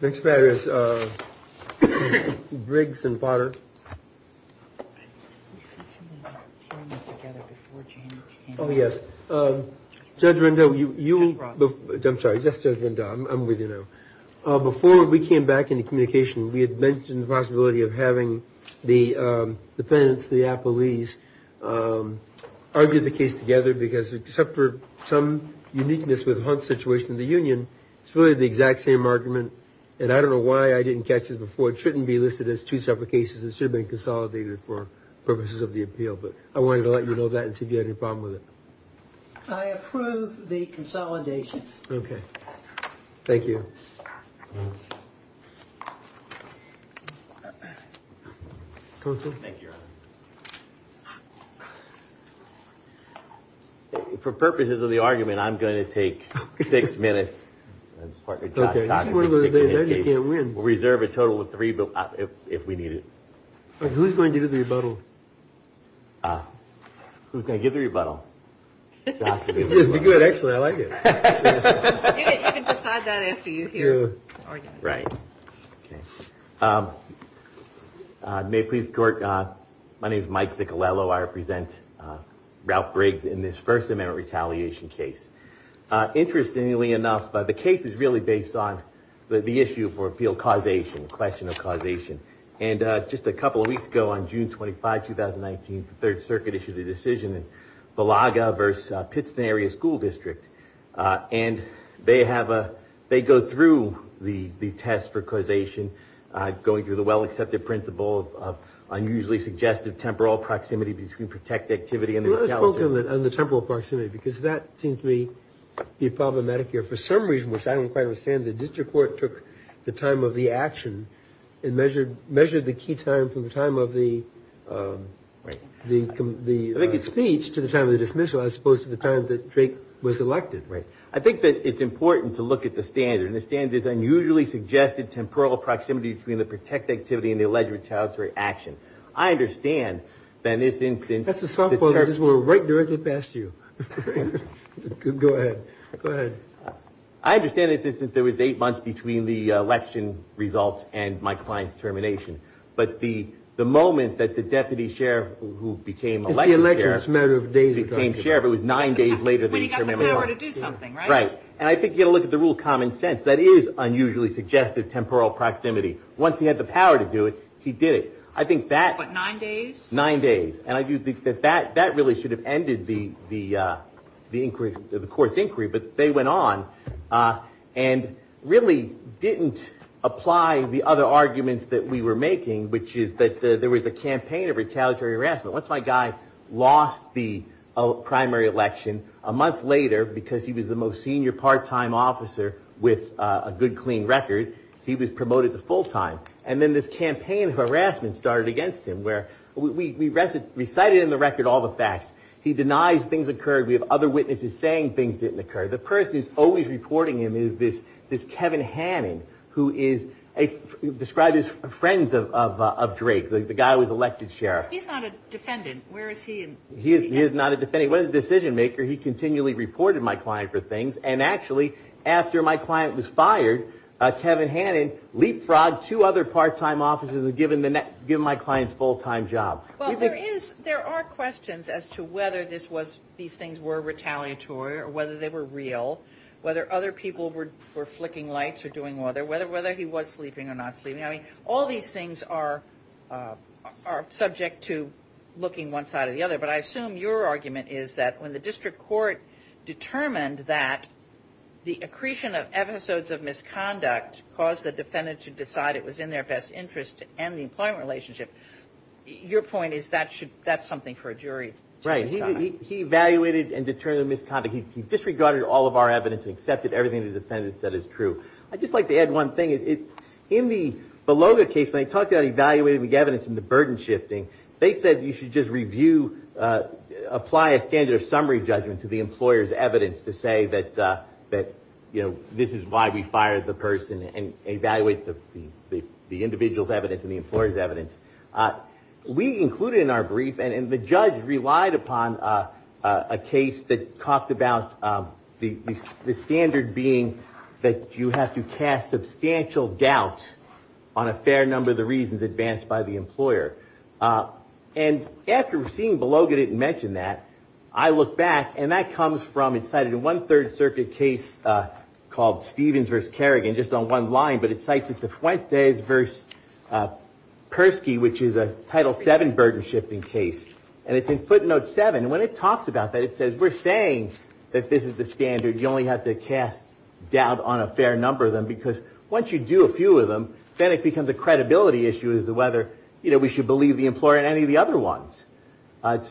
Before we came back into communication we had mentioned the possibility of having the defendants, the appellees, argue the case together because except for some uniqueness with Hunt's situation in the union, it's really the exact same argument and I don't know why I didn't catch it before. It shouldn't be listed as two separate cases. It should have been consolidated for purposes of the appeal. But I wanted to let you know that and see if you had any problem with it. I approve the consolidation. Okay. Thank you. For purposes of the argument, I'm going to take six minutes and reserve a total of three if we need it. Who's going to do the rebuttal? Who's going to give the rebuttal? Actually, I like it. You can decide that after you hear the argument. Right. May it please the court, my name is Mike Ziccolello. I represent Ralph Briggs in this First Amendment retaliation case. Interestingly enough, the case is really based on the issue of appeal causation, the question of causation. And just a couple of weeks ago on June 25, 2019, the Third Circuit issued a decision in Villaga v. Pittston Area School District, and they go through the test for causation, going through the well-accepted principle of unusually suggestive temporal proximity between protected activity and retaliation. Let's focus on the temporal proximity, because that seems to be problematic here. For some reason, which I don't quite understand, the district court took the time of the action and measured the key time from the time of the speech to the time of the dismissal, as opposed to the time that Drake was elected. Right. I think that it's important to look at the standard. And the standard is unusually suggestive temporal proximity between the protected activity and the alleged retaliatory action. I understand that in this instance... That's a softball that just went right directly past you. Go ahead. Go ahead. I understand in this instance there was eight months between the election results and my client's termination. But the moment that the deputy sheriff who became elected sheriff... When he had the power to do something, right? Right. And I think you've got to look at the rule of common sense. That is unusually suggestive temporal proximity. Once he had the power to do it, he did it. I think that... What, nine days? Nine days. And I do think that that really should have ended the court's inquiry. But they went on and really didn't apply the other arguments that we were making, which is that there was a campaign of retaliatory harassment. Once my guy lost the primary election, a month later, because he was the most senior part-time officer with a good, clean record, he was promoted to full-time. And then this campaign of harassment started against him, where we recited in the record all the facts. He denies things occurred. We have other witnesses saying things didn't occur. The person who's always reporting him is this Kevin Hannan, who is described as friends of Drake, the guy who was elected sheriff. He's not a defendant. Where is he? He is not a defendant. He was a decision-maker. He continually reported my client for things. And actually, after my client was fired, Kevin Hannan leapfrogged two other part-time officers and given my client's full-time job. Well, there are questions as to whether these things were retaliatory or whether they were real, whether other people were flicking lights or doing other, whether he was sleeping or not sleeping. I mean, all these things are subject to looking one side or the other. But I assume your argument is that when the district court determined that the accretion of episodes of misconduct caused the defendant to decide it was in their best interest to end the employment relationship, your point is that's something for a jury to decide. Right. He evaluated and determined the misconduct. He disregarded all of our evidence and accepted everything the defendant said is true. I'd just like to add one thing. In the Beloga case, when they talked about evaluating the evidence and the burden shifting, they said you should just review, apply a standard of summary judgment to the employer's evidence to say that this is why we fired the person and evaluate the individual's evidence and the employer's evidence. We included in our brief, and the judge relied upon a case that talked about the standard being that you have to cast substantial doubt on a fair number of the reasons advanced by the employer. And after seeing Beloga didn't mention that, I look back and that comes from, it's cited in one Third Circuit case called Stevens v. Kerrigan, just on one line, but it cites it to Fuentes v. Persky, which is a Title VII burden shifting case. And it's in footnote seven. And when it talks about that, it says we're saying that this is the standard. You only have to cast doubt on a fair number of them because once you do a few of them, then it becomes a credibility issue as to whether, you know, we should believe the employer in any of the other ones.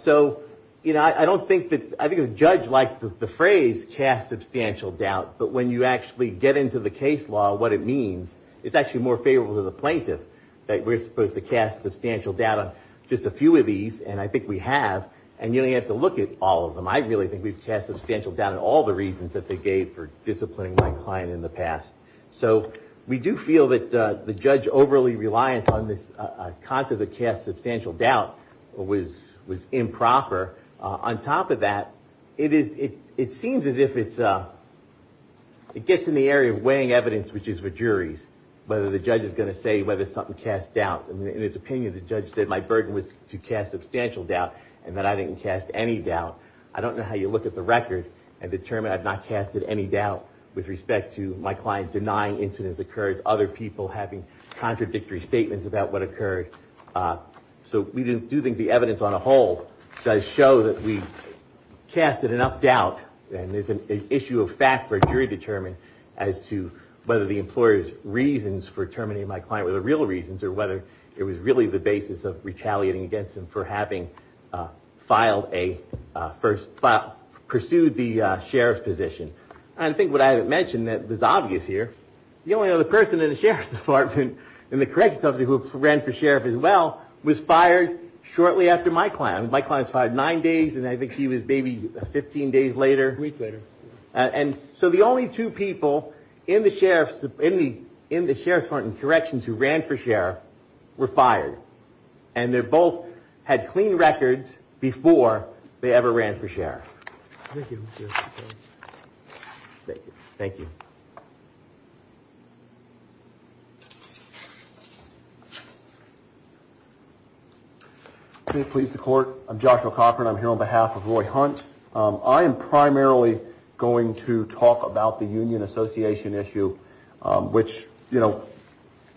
So, you know, I don't think that, I think the judge liked the phrase cast substantial doubt. But when you actually get into the case law, what it means, it's actually more favorable to the plaintiff that we're supposed to cast substantial doubt on just a few of these. And I think we have. And you don't even have to look at all of them. I really think we've cast substantial doubt on all the reasons that they gave for disciplining my client in the past. So we do feel that the judge overly reliant on this concept of cast substantial doubt was improper. On top of that, it is, it seems as if it's, it gets in the area of weighing evidence, which is for juries, whether the judge is going to say whether something cast doubt. In his opinion, the judge said my burden was to cast substantial doubt. And that I didn't cast any doubt. I don't know how you look at the record and determine I've not casted any doubt with respect to my client denying incidents occurred, other people having contradictory statements about what occurred. So we do think the evidence on a whole does show that we casted enough doubt. And there's an issue of fact for jury determined as to whether the employer's reasons for terminating my client were the real reasons or whether it was really the basis of retaliating against him for having filed a first file, pursued the sheriff's position. And I think what I haven't mentioned that was obvious here, the only other person in the sheriff's department in the corrections department who ran for sheriff as well was fired shortly after my client. My client's fired nine days and I think he was maybe 15 days later. Weeks later. And so the only two people in the sheriff's, in the sheriff's department corrections who ran for sheriff were fired. And they both had clean records before they ever ran for sheriff. Thank you. Please support. I'm Joshua Cochran. I'm here on behalf of Roy Hunt. I am primarily going to talk about the union association issue, which, you know,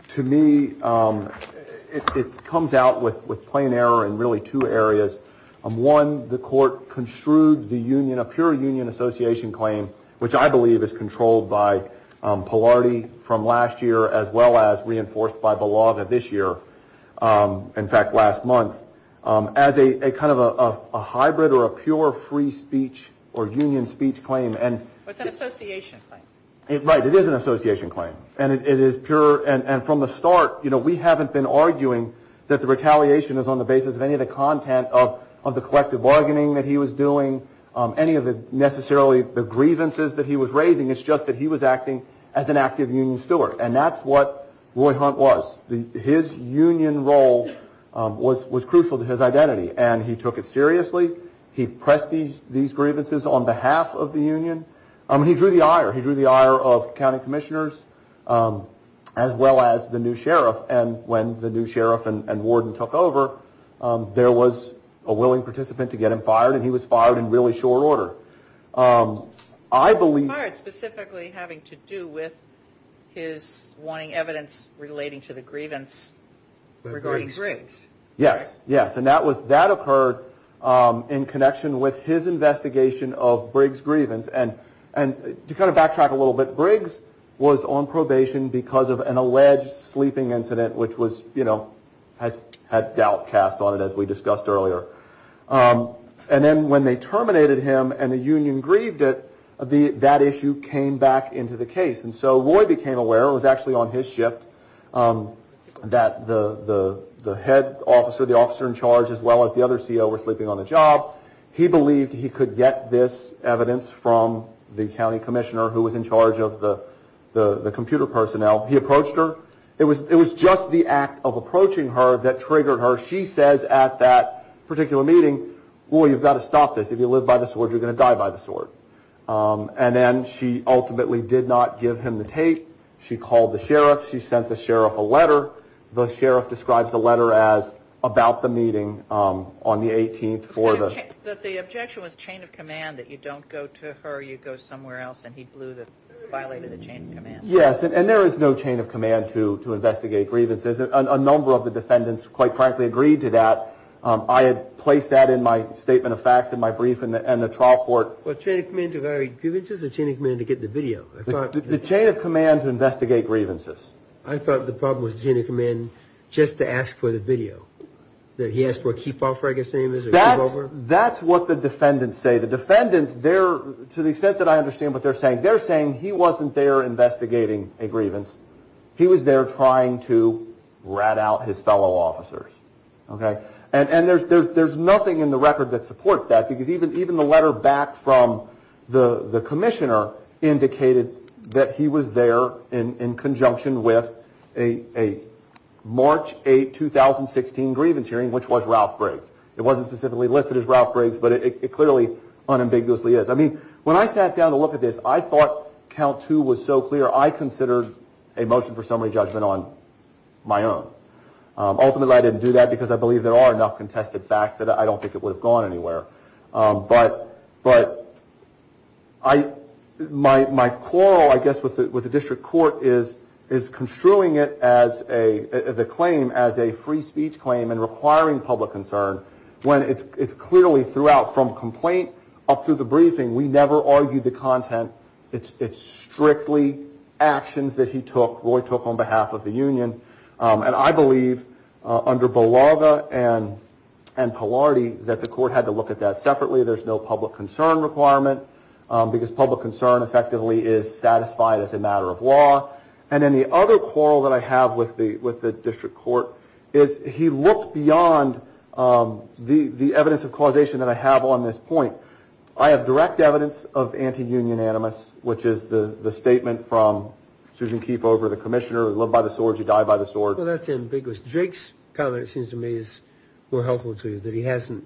to me, it comes out with plain error in really two areas. One, the court construed the union, a pure union association claim, which I believe is controlled by Polardi from last year as well as reinforced by Belaga this year. In fact, last month, as a kind of a hybrid or a pure free speech or union speech claim. It's an association claim. Right. It is an association claim. And it is pure. And from the start, you know, we haven't been arguing that the retaliation is on the basis of any of the content of the collective bargaining that he was doing. Any of the necessarily the grievances that he was raising. It's just that he was acting as an active union steward. And that's what Roy Hunt was. His union role was crucial to his identity. And he took it seriously. He pressed these grievances on behalf of the union. He drew the ire. He drew the ire of county commissioners as well as the new sheriff. And when the new sheriff and warden took over, there was a willing participant to get him fired. And he was fired in really short order. I believe. He was fired specifically having to do with his wanting evidence relating to the grievance regarding Briggs. Yes. Yes. And that was that occurred in connection with his investigation of Briggs grievance. And to kind of backtrack a little bit, Briggs was on probation because of an alleged sleeping incident, which was, you know, had doubt cast on it, as we discussed earlier. And then when they terminated him and the union grieved it, that issue came back into the case. And so Roy became aware, it was actually on his shift, that the head officer, the officer in charge, as well as the other CO were sleeping on the job. He believed he could get this evidence from the county commissioner who was in charge of the computer personnel. He approached her. It was just the act of approaching her that triggered her. She says at that particular meeting, Roy, you've got to stop this. If you live by the sword, you're going to die by the sword. And then she ultimately did not give him the tape. She called the sheriff. She sent the sheriff a letter. The sheriff describes the letter as about the meeting on the 18th for the... But the objection was chain of command that you don't go to her, you go somewhere else. And he violated the chain of command. Yes, and there is no chain of command to investigate grievances. A number of the defendants, quite frankly, agreed to that. I had placed that in my statement of facts in my brief in the trial court. Well, chain of command to violate grievances or chain of command to get the video? The chain of command to investigate grievances. I thought the problem was the chain of command just to ask for the video. That he asked for a keep off, I guess the name is, or a move over? That's what the defendants say. The defendants, to the extent that I understand what they're saying, they're saying he wasn't there investigating a grievance. He was there trying to rat out his fellow officers. And there's nothing in the record that supports that because even the letter back from the commissioner indicated that he was there in conjunction with a March 8, 2016 grievance hearing, which was Ralph Briggs. It wasn't specifically listed as Ralph Briggs, but it clearly unambiguously is. I mean, when I sat down to look at this, I thought count two was so clear, I considered a motion for summary judgment on my own. Ultimately, I didn't do that because I believe there are enough contested facts that I don't think it would have gone anywhere. But my quarrel, I guess, with the district court is construing the claim as a free speech claim and requiring public concern when it's clearly throughout, from complaint up through the briefing, we never argued the content. It's strictly actions that he took, Roy took on behalf of the union. And I believe under Belaga and Polardi that the court had to look at that separately. There's no public concern requirement because public concern effectively is satisfied as a matter of law. And then the other quarrel that I have with the district court is he looked beyond the evidence of causation that I have on this point. I have direct evidence of anti-union animus, which is the statement from Susan Keefe over the commissioner, love by the sword, you die by the sword. Well, that's ambiguous. Drake's comment, it seems to me, is more helpful to you, that he hasn't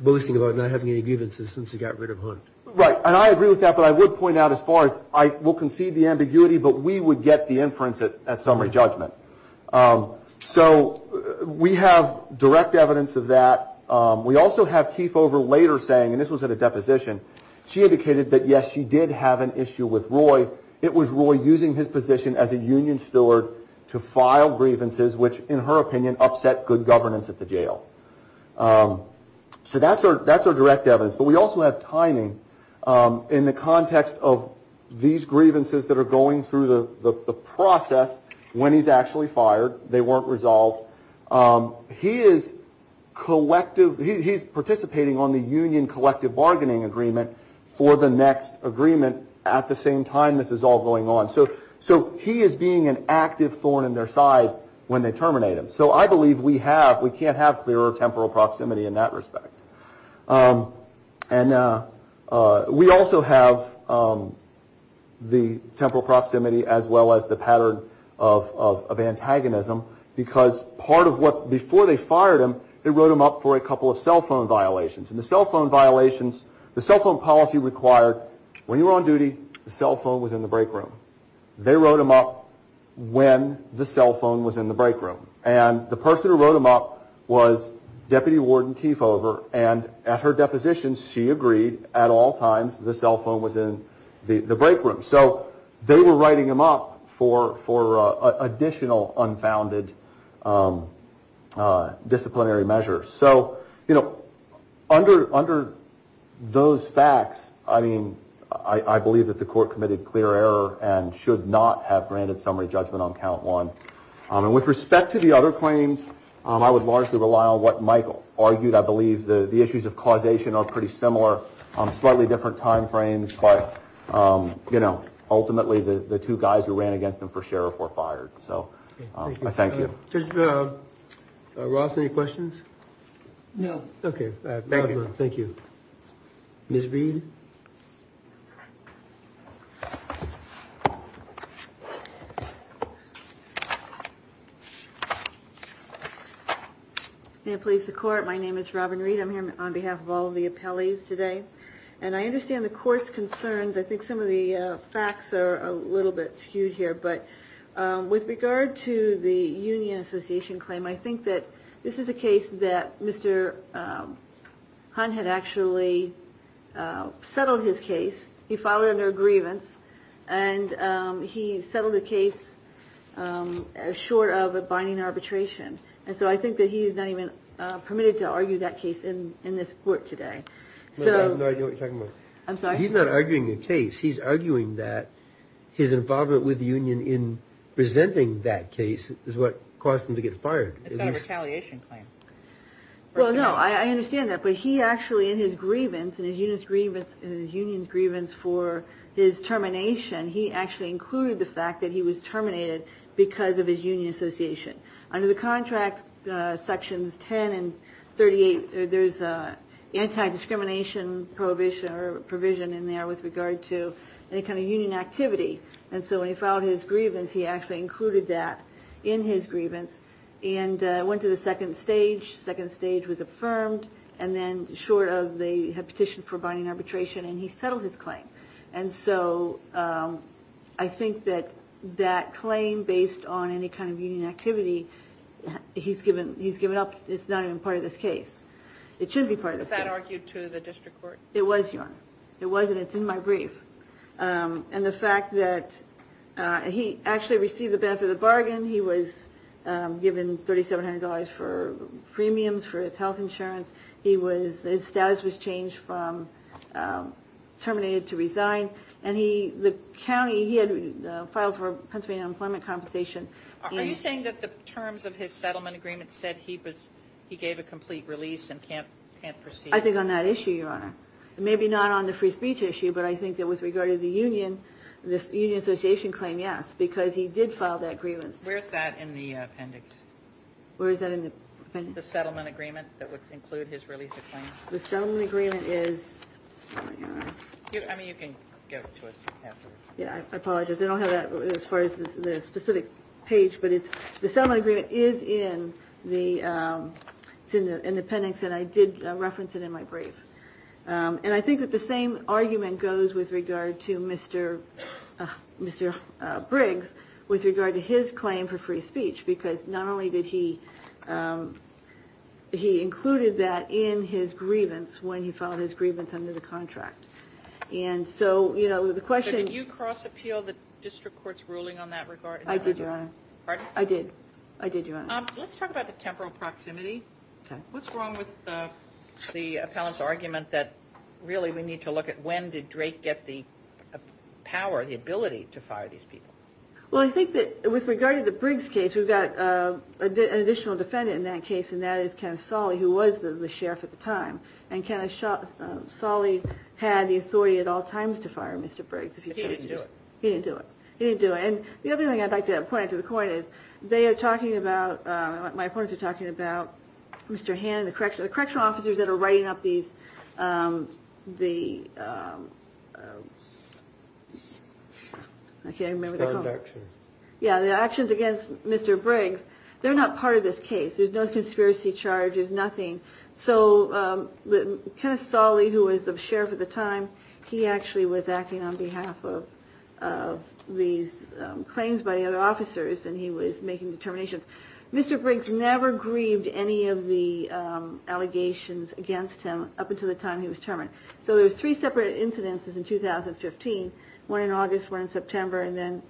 boasting about not having any grievances since he got rid of Hunt. Right. And I agree with that, but I would point out as far as I will concede the ambiguity, but we would get the inference at summary judgment. So we have direct evidence of that. We also have Keefe over later saying, and this was at a deposition, she indicated that, yes, she did have an issue with Roy. It was Roy using his position as a union steward to file grievances, which in her opinion upset good governance at the jail. So that's our direct evidence. But we also have timing in the context of these grievances that are going through the process when he's actually fired. They weren't resolved. He is collective. He's participating on the union collective bargaining agreement for the next agreement. At the same time, this is all going on. So he is being an active thorn in their side when they terminate him. So I believe we have, we can't have clearer temporal proximity in that respect. And we also have the temporal proximity as well as the pattern of antagonism because part of what, before they fired him, they wrote him up for a couple of cell phone violations. And the cell phone violations, the cell phone policy required when you were on duty, the cell phone was in the break room. They wrote him up when the cell phone was in the break room. And the person who wrote him up was Deputy Warden Keefe over. And at her deposition, she agreed at all times the cell phone was in the break room. So they were writing him up for additional unfounded disciplinary measures. So, you know, under those facts, I mean, I believe that the court committed clear error and should not have granted summary judgment on count one. And with respect to the other claims, I would largely rely on what Michael argued. I believe the issues of causation are pretty similar on slightly different time frames. But, you know, ultimately the two guys who ran against him for sheriff were fired. So I thank you. Judge Ross, any questions? No. Okay, thank you. Ms. Reed. May it please the court, my name is Robin Reed. I'm here on behalf of all of the appellees today. And I understand the court's concerns. I think some of the facts are a little bit skewed here. But with regard to the Union Association claim, I think that this is a case that Mr. Hunt had actually settled his case. He filed it under a grievance. And he settled the case short of a binding arbitration. And so I think that he is not even permitted to argue that case in this court today. I have no idea what you're talking about. I'm sorry? He's not arguing the case. He's arguing that his involvement with the Union in presenting that case is what caused him to get fired. It's not a retaliation claim. Well, no, I understand that. But he actually, in his grievance, in his union's grievance for his termination, he actually included the fact that he was terminated because of his union association. Under the contract, sections 10 and 38, there's anti-discrimination provision in there with regard to any kind of union activity. And so when he filed his grievance, he actually included that in his grievance and went to the second stage. The second stage was affirmed. And then short of the petition for binding arbitration, and he settled his claim. And so I think that that claim, based on any kind of union activity, he's given up. It's not even part of this case. It should be part of this case. Was that argued to the district court? It was, Your Honor. It was, and it's in my brief. And the fact that he actually received the benefit of the bargain. He was given $3,700 for premiums for his health insurance. His status was changed from terminated to resigned. And the county, he had filed for Pennsylvania Unemployment Compensation. Are you saying that the terms of his settlement agreement said he gave a complete release and can't proceed? I think on that issue, Your Honor. Maybe not on the free speech issue, but I think that with regard to the union, this union association claim, yes. Because he did file that grievance. Where is that in the appendix? Where is that in the appendix? The settlement agreement that would include his release of claim. The settlement agreement is... I mean, you can give it to us afterwards. Yeah, I apologize. I don't have that as far as the specific page. But the settlement agreement is in the appendix. And I did reference it in my brief. And I think that the same argument goes with regard to Mr. Briggs with regard to his claim for free speech. Because not only did he include that in his grievance when he filed his grievance under the contract. And so, you know, the question... Did you cross-appeal the district court's ruling on that regard? I did, Your Honor. Pardon? I did. I did, Your Honor. Let's talk about the temporal proximity. What's wrong with the appellant's argument that really we need to look at when did Drake get the power, the ability to fire these people? Well, I think that with regard to the Briggs case, we've got an additional defendant in that case, and that is Ken Solley, who was the sheriff at the time. And Ken Solley had the authority at all times to fire Mr. Briggs. But he didn't do it. He didn't do it. He didn't do it. And the other thing I'd like to point out to the court is they are talking about... My opponents are talking about Mr. Hannon, the correctional officers that are writing up these... I can't even remember what they're called. Yeah, the actions against Mr. Briggs. They're not part of this case. There's no conspiracy charges, nothing. So Ken Solley, who was the sheriff at the time, he actually was acting on behalf of these claims by the other officers, and he was making determinations. Mr. Briggs never grieved any of the allegations against him up until the time he was terminated. So there were three separate incidences in 2015, one in August, one in September, and then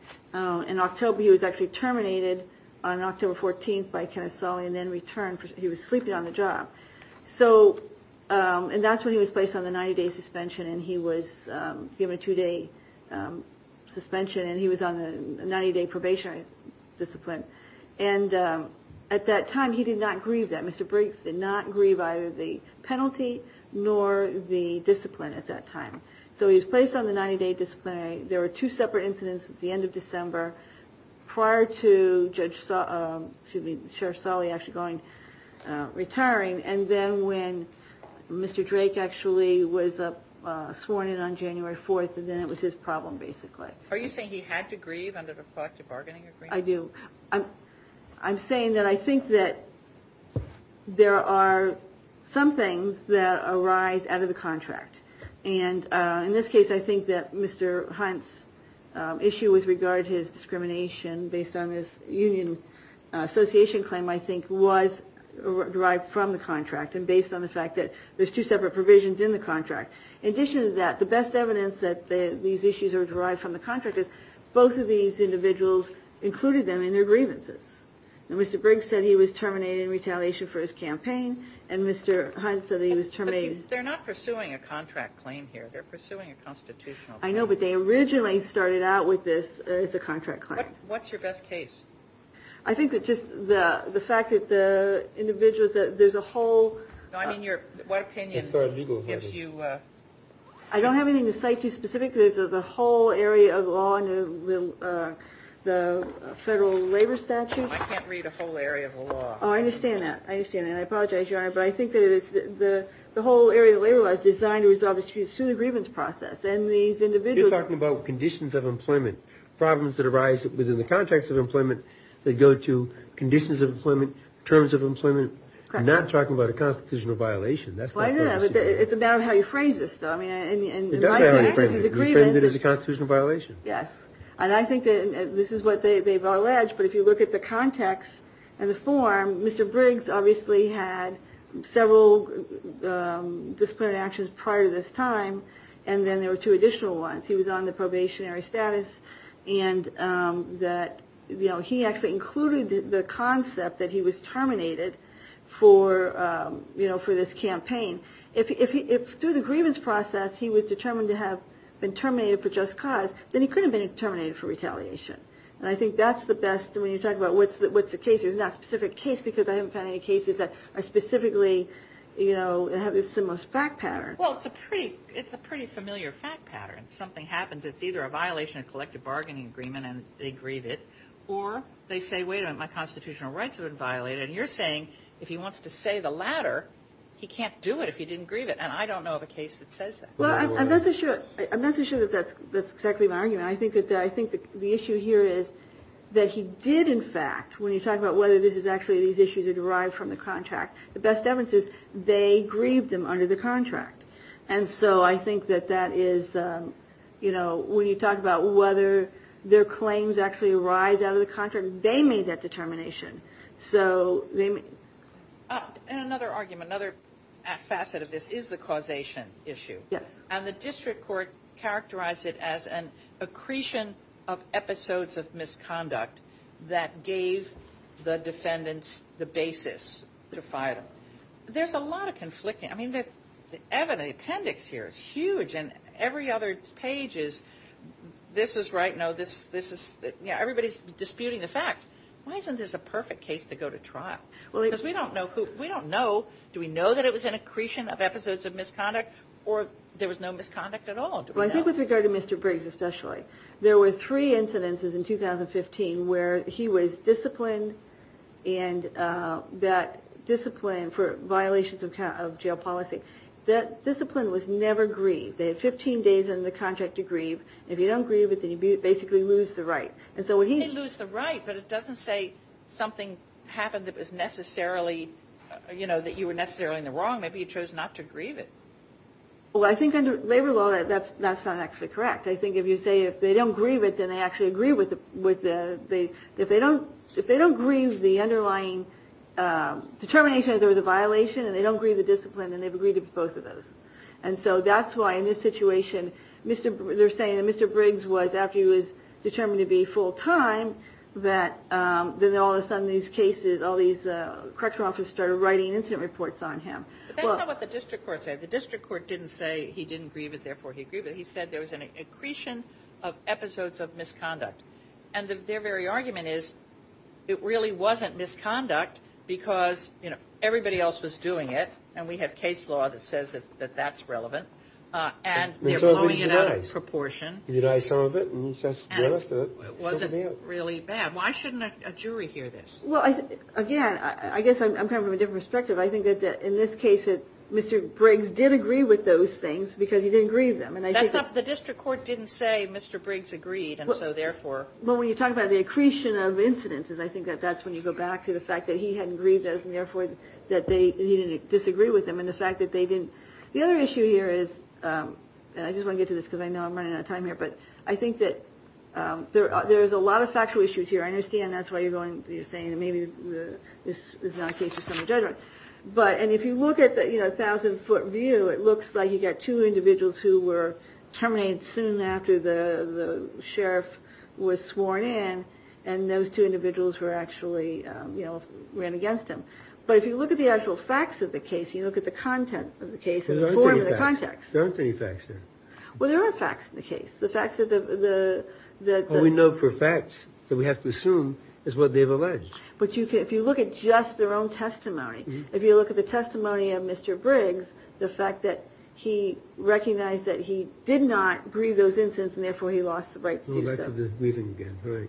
in October he was actually terminated on October 14th by Ken Solley and then returned. He was sleeping on the job. And that's when he was placed on the 90-day suspension, and he was given a two-day suspension, and he was on the 90-day probationary discipline. And at that time he did not grieve that. Mr. Briggs did not grieve either the penalty nor the discipline at that time. So he was placed on the 90-day disciplinary. There were two separate incidents at the end of December prior to Sheriff Solley actually retiring, and then when Mr. Drake actually was sworn in on January 4th, and then it was his problem basically. Are you saying he had to grieve under the collective bargaining agreement? I do. I'm saying that I think that there are some things that arise out of the contract. And in this case I think that Mr. Hunt's issue with regard to his discrimination based on his union association claim I think was derived from the contract and based on the fact that there's two separate provisions in the contract. In addition to that, the best evidence that these issues are derived from the contract is both of these individuals included them in their grievances. Mr. Briggs said he was terminated in retaliation for his campaign, and Mr. Hunt said he was terminated. But they're not pursuing a contract claim here. They're pursuing a constitutional claim. I know, but they originally started out with this as a contract claim. What's your best case? I think that just the fact that the individuals that there's a whole. No, I mean what opinion gives you. I don't have anything to cite too specific. There's a whole area of law in the federal labor statute. I can't read a whole area of the law. Oh, I understand that. I understand that. And I apologize, Your Honor, but I think that the whole area of labor law is designed to resolve disputes through the grievance process. And these individuals. You're talking about conditions of employment. Problems that arise within the context of employment that go to conditions of employment, terms of employment. Correct. I'm not talking about a constitutional violation. Why not? It's a matter of how you phrase this, though. It does matter how you frame it. You framed it as a constitutional violation. Yes. And I think that this is what they've alleged. But if you look at the context and the form, Mr. Briggs obviously had several disciplinary actions prior to this time, and then there were two additional ones. He was on the probationary status, and that he actually included the concept that he was terminated for this campaign. If through the grievance process he was determined to have been terminated for just cause, then he couldn't have been terminated for retaliation. And I think that's the best when you talk about what's the case. There's not a specific case because I haven't found any cases that are specifically, you know, have a similar fact pattern. Well, it's a pretty familiar fact pattern. Something happens, it's either a violation of collective bargaining agreement and they grieve it, or they say, wait a minute, my constitutional rights have been violated, and you're saying if he wants to say the latter, he can't do it if he didn't grieve it. And I don't know of a case that says that. Well, I'm not so sure that that's exactly my argument. I think the issue here is that he did in fact, when you talk about whether this is actually these issues are derived from the contract, the best evidence is they grieved him under the contract. And so I think that that is, you know, when you talk about whether their claims actually arise out of the contract, they made that determination. And another argument, another facet of this is the causation issue. Yes. And the district court characterized it as an accretion of episodes of misconduct that gave the defendants the basis to fire them. There's a lot of conflicting, I mean, the evidence, the appendix here is huge and every other page is this is right, no, this is, you know, everybody's disputing the facts. Why isn't this a perfect case to go to trial? Because we don't know who, we don't know, do we know that it was an accretion of episodes of misconduct, or there was no misconduct at all? Well, I think with regard to Mr. Briggs especially, there were three incidences in 2015 where he was disciplined and that discipline for violations of jail policy, that discipline was never grieved. They had 15 days in the contract to grieve. If you don't grieve it, then you basically lose the right. You didn't lose the right, but it doesn't say something happened that was necessarily, you know, that you were necessarily in the wrong. Maybe you chose not to grieve it. Well, I think under labor law that's not actually correct. I think if you say if they don't grieve it, then they actually agree with the, if they don't, if they don't grieve the underlying determination that there was a violation and they don't grieve the discipline, then they've agreed to both of those. And so that's why in this situation, they're saying that Mr. Briggs was, after he was determined to be full time, that then all of a sudden these cases, all these correctional officers started writing incident reports on him. But that's not what the district court said. The district court didn't say he didn't grieve it, therefore he grieved it. He said there was an accretion of episodes of misconduct. And their very argument is it really wasn't misconduct because, you know, everybody else was doing it. And we have case law that says that that's relevant. And they're blowing it out of proportion. And it wasn't really bad. Why shouldn't a jury hear this? Well, again, I guess I'm coming from a different perspective. I think that in this case that Mr. Briggs did agree with those things because he didn't grieve them. That's not the district court didn't say Mr. Briggs agreed and so therefore. Well, when you talk about the accretion of incidents, I think that's when you go back to the fact that he hadn't grieved those and therefore that he didn't disagree with them. And the fact that they didn't. The other issue here is, and I just want to get to this because I know I'm running out of time here, but I think that there's a lot of factual issues here. I understand that's why you're going, you're saying maybe this is not a case for someone to judge on. But, and if you look at the, you know, terminated soon after the sheriff was sworn in. And those two individuals were actually, you know, ran against him. But if you look at the actual facts of the case, you look at the content of the case and the context. There aren't any facts here. Well, there are facts in the case. The facts that the. We know for facts that we have to assume is what they've alleged. But you can, if you look at just their own testimony, if you look at the testimony of Mr. Briggs, the fact that he recognized that he did not grieve those incidents. And therefore he lost the right to do so.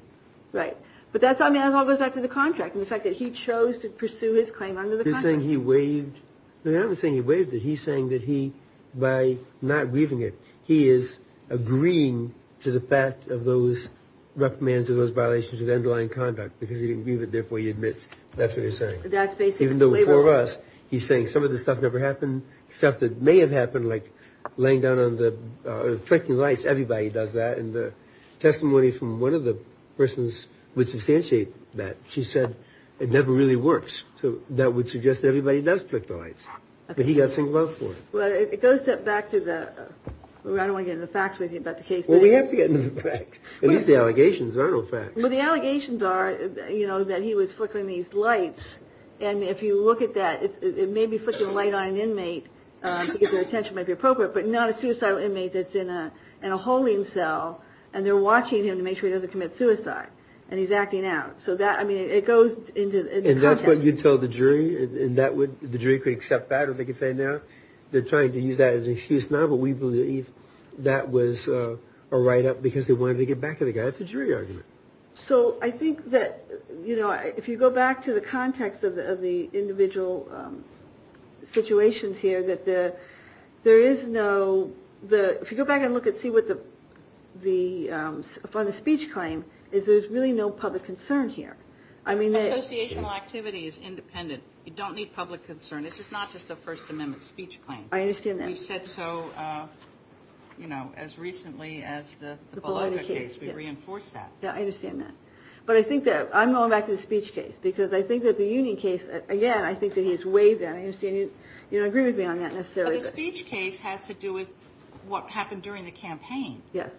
Right. But that's, I mean, it all goes back to the contract and the fact that he chose to pursue his claim under the saying he waived the other thing. He waived it. He's saying that he, by not grieving it, he is agreeing to the fact of those reprimands or those violations of underlying conduct because he didn't leave it. Therefore, he admits that's what you're saying. That's basically, even though for us, he's saying some of this stuff never happened. Stuff that may have happened, like laying down on the flicking lights. Everybody does that. And the testimony from one of the persons would substantiate that. She said it never really works. So that would suggest that everybody does flick the lights. But he got some love for it. Well, it goes back to the. I don't want to get into the facts with you about the case. We have to get into the facts. At least the allegations are no facts. But the allegations are, you know, that he was flickering these lights. And if you look at that, it may be flicking a light on an inmate. Because their attention might be appropriate. But not a suicidal inmate that's in a holding cell. And they're watching him to make sure he doesn't commit suicide. And he's acting out. So that, I mean, it goes into the context. And that's what you told the jury? And that would, the jury could accept that? Or they could say no? They're trying to use that as an excuse now. But we believe that was a write-up because they wanted to get back at the guy. That's a jury argument. So I think that, you know, if you go back to the context of the individual situations here, that there is no, if you go back and look and see what the speech claim, is there's really no public concern here. I mean, the associational activity is independent. You don't need public concern. This is not just a First Amendment speech claim. I understand that. We've said so, you know, as recently as the Bologna case. We've reinforced that. Yeah, I understand that. But I think that, I'm going back to the speech case. Because I think that the union case, again, I think that he's weighed in. I understand you don't agree with me on that necessarily. But the speech case has to do with what happened during the campaign. Yes.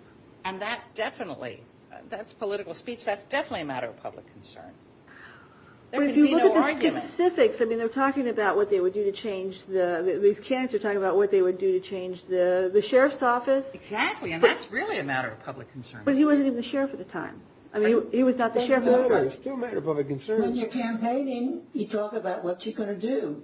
And that definitely, that's political speech. That's definitely a matter of public concern. There can be no argument. But if you look at the specifics, I mean they're talking about what they would do to change the, these candidates are talking about what they would do to change the sheriff's office. Exactly. And that's really a matter of public concern. But he wasn't even the sheriff at the time. I mean, he was not the sheriff at the time. Still a matter of public concern. When you're campaigning, you talk about what you're going to do.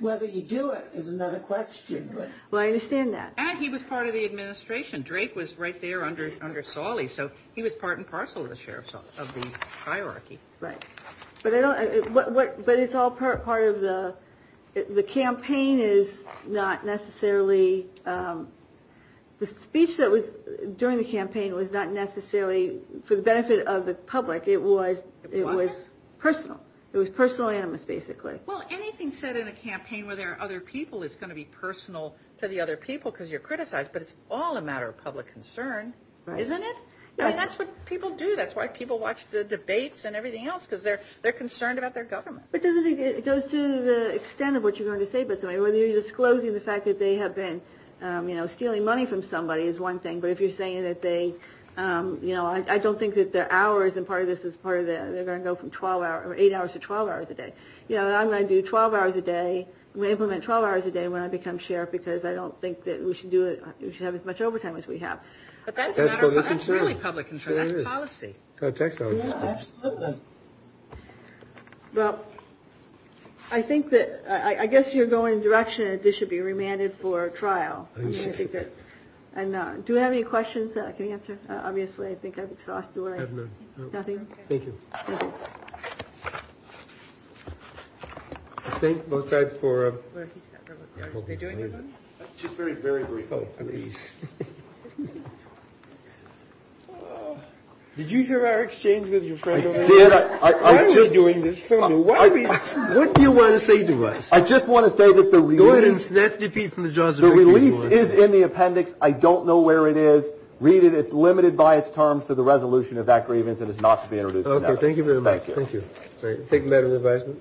Whether you do it is another question. Well, I understand that. And he was part of the administration. Drake was right there under Sawley. So he was part and parcel of the hierarchy. Right. But I don't, but it's all part of the, the campaign is not necessarily, the speech that was during the campaign was not necessarily for the benefit of the public. It was personal. It was personal animus, basically. Well, anything said in a campaign where there are other people is going to be personal to the other people because you're criticized. But it's all a matter of public concern, isn't it? Right. And that's what people do. That's why people watch the debates and everything else because they're concerned about their government. But doesn't it, it goes to the extent of what you're going to say, whether you're disclosing the fact that they have been, you know, stealing money from somebody is one thing. But if you're saying that they, you know, I don't think that their hours and part of this is part of the, they're going to go from 12 hours or eight hours to 12 hours a day. You know, I'm going to do 12 hours a day. I'm going to implement 12 hours a day when I become sheriff because I don't think that we should do it. We should have as much overtime as we have. But that's a matter of public concern. That's really public concern. That's policy. Tax dollars. Absolutely. Well, I think that I guess you're going in the direction that this should be remanded for trial. And do you have any questions that I can answer? Obviously, I think I've exhausted. Nothing. Thank you. I think both sides for. Just very, very brief. Oh, please. Did you hear our exchange with your friend? I was doing this. What do you want to say to us? I just want to say that the release is in the appendix. I don't know where it is. Read it. It's limited by its terms to the resolution of that grievance. And it's not to be introduced. Okay. Thank you very much. Thank you. Thank you.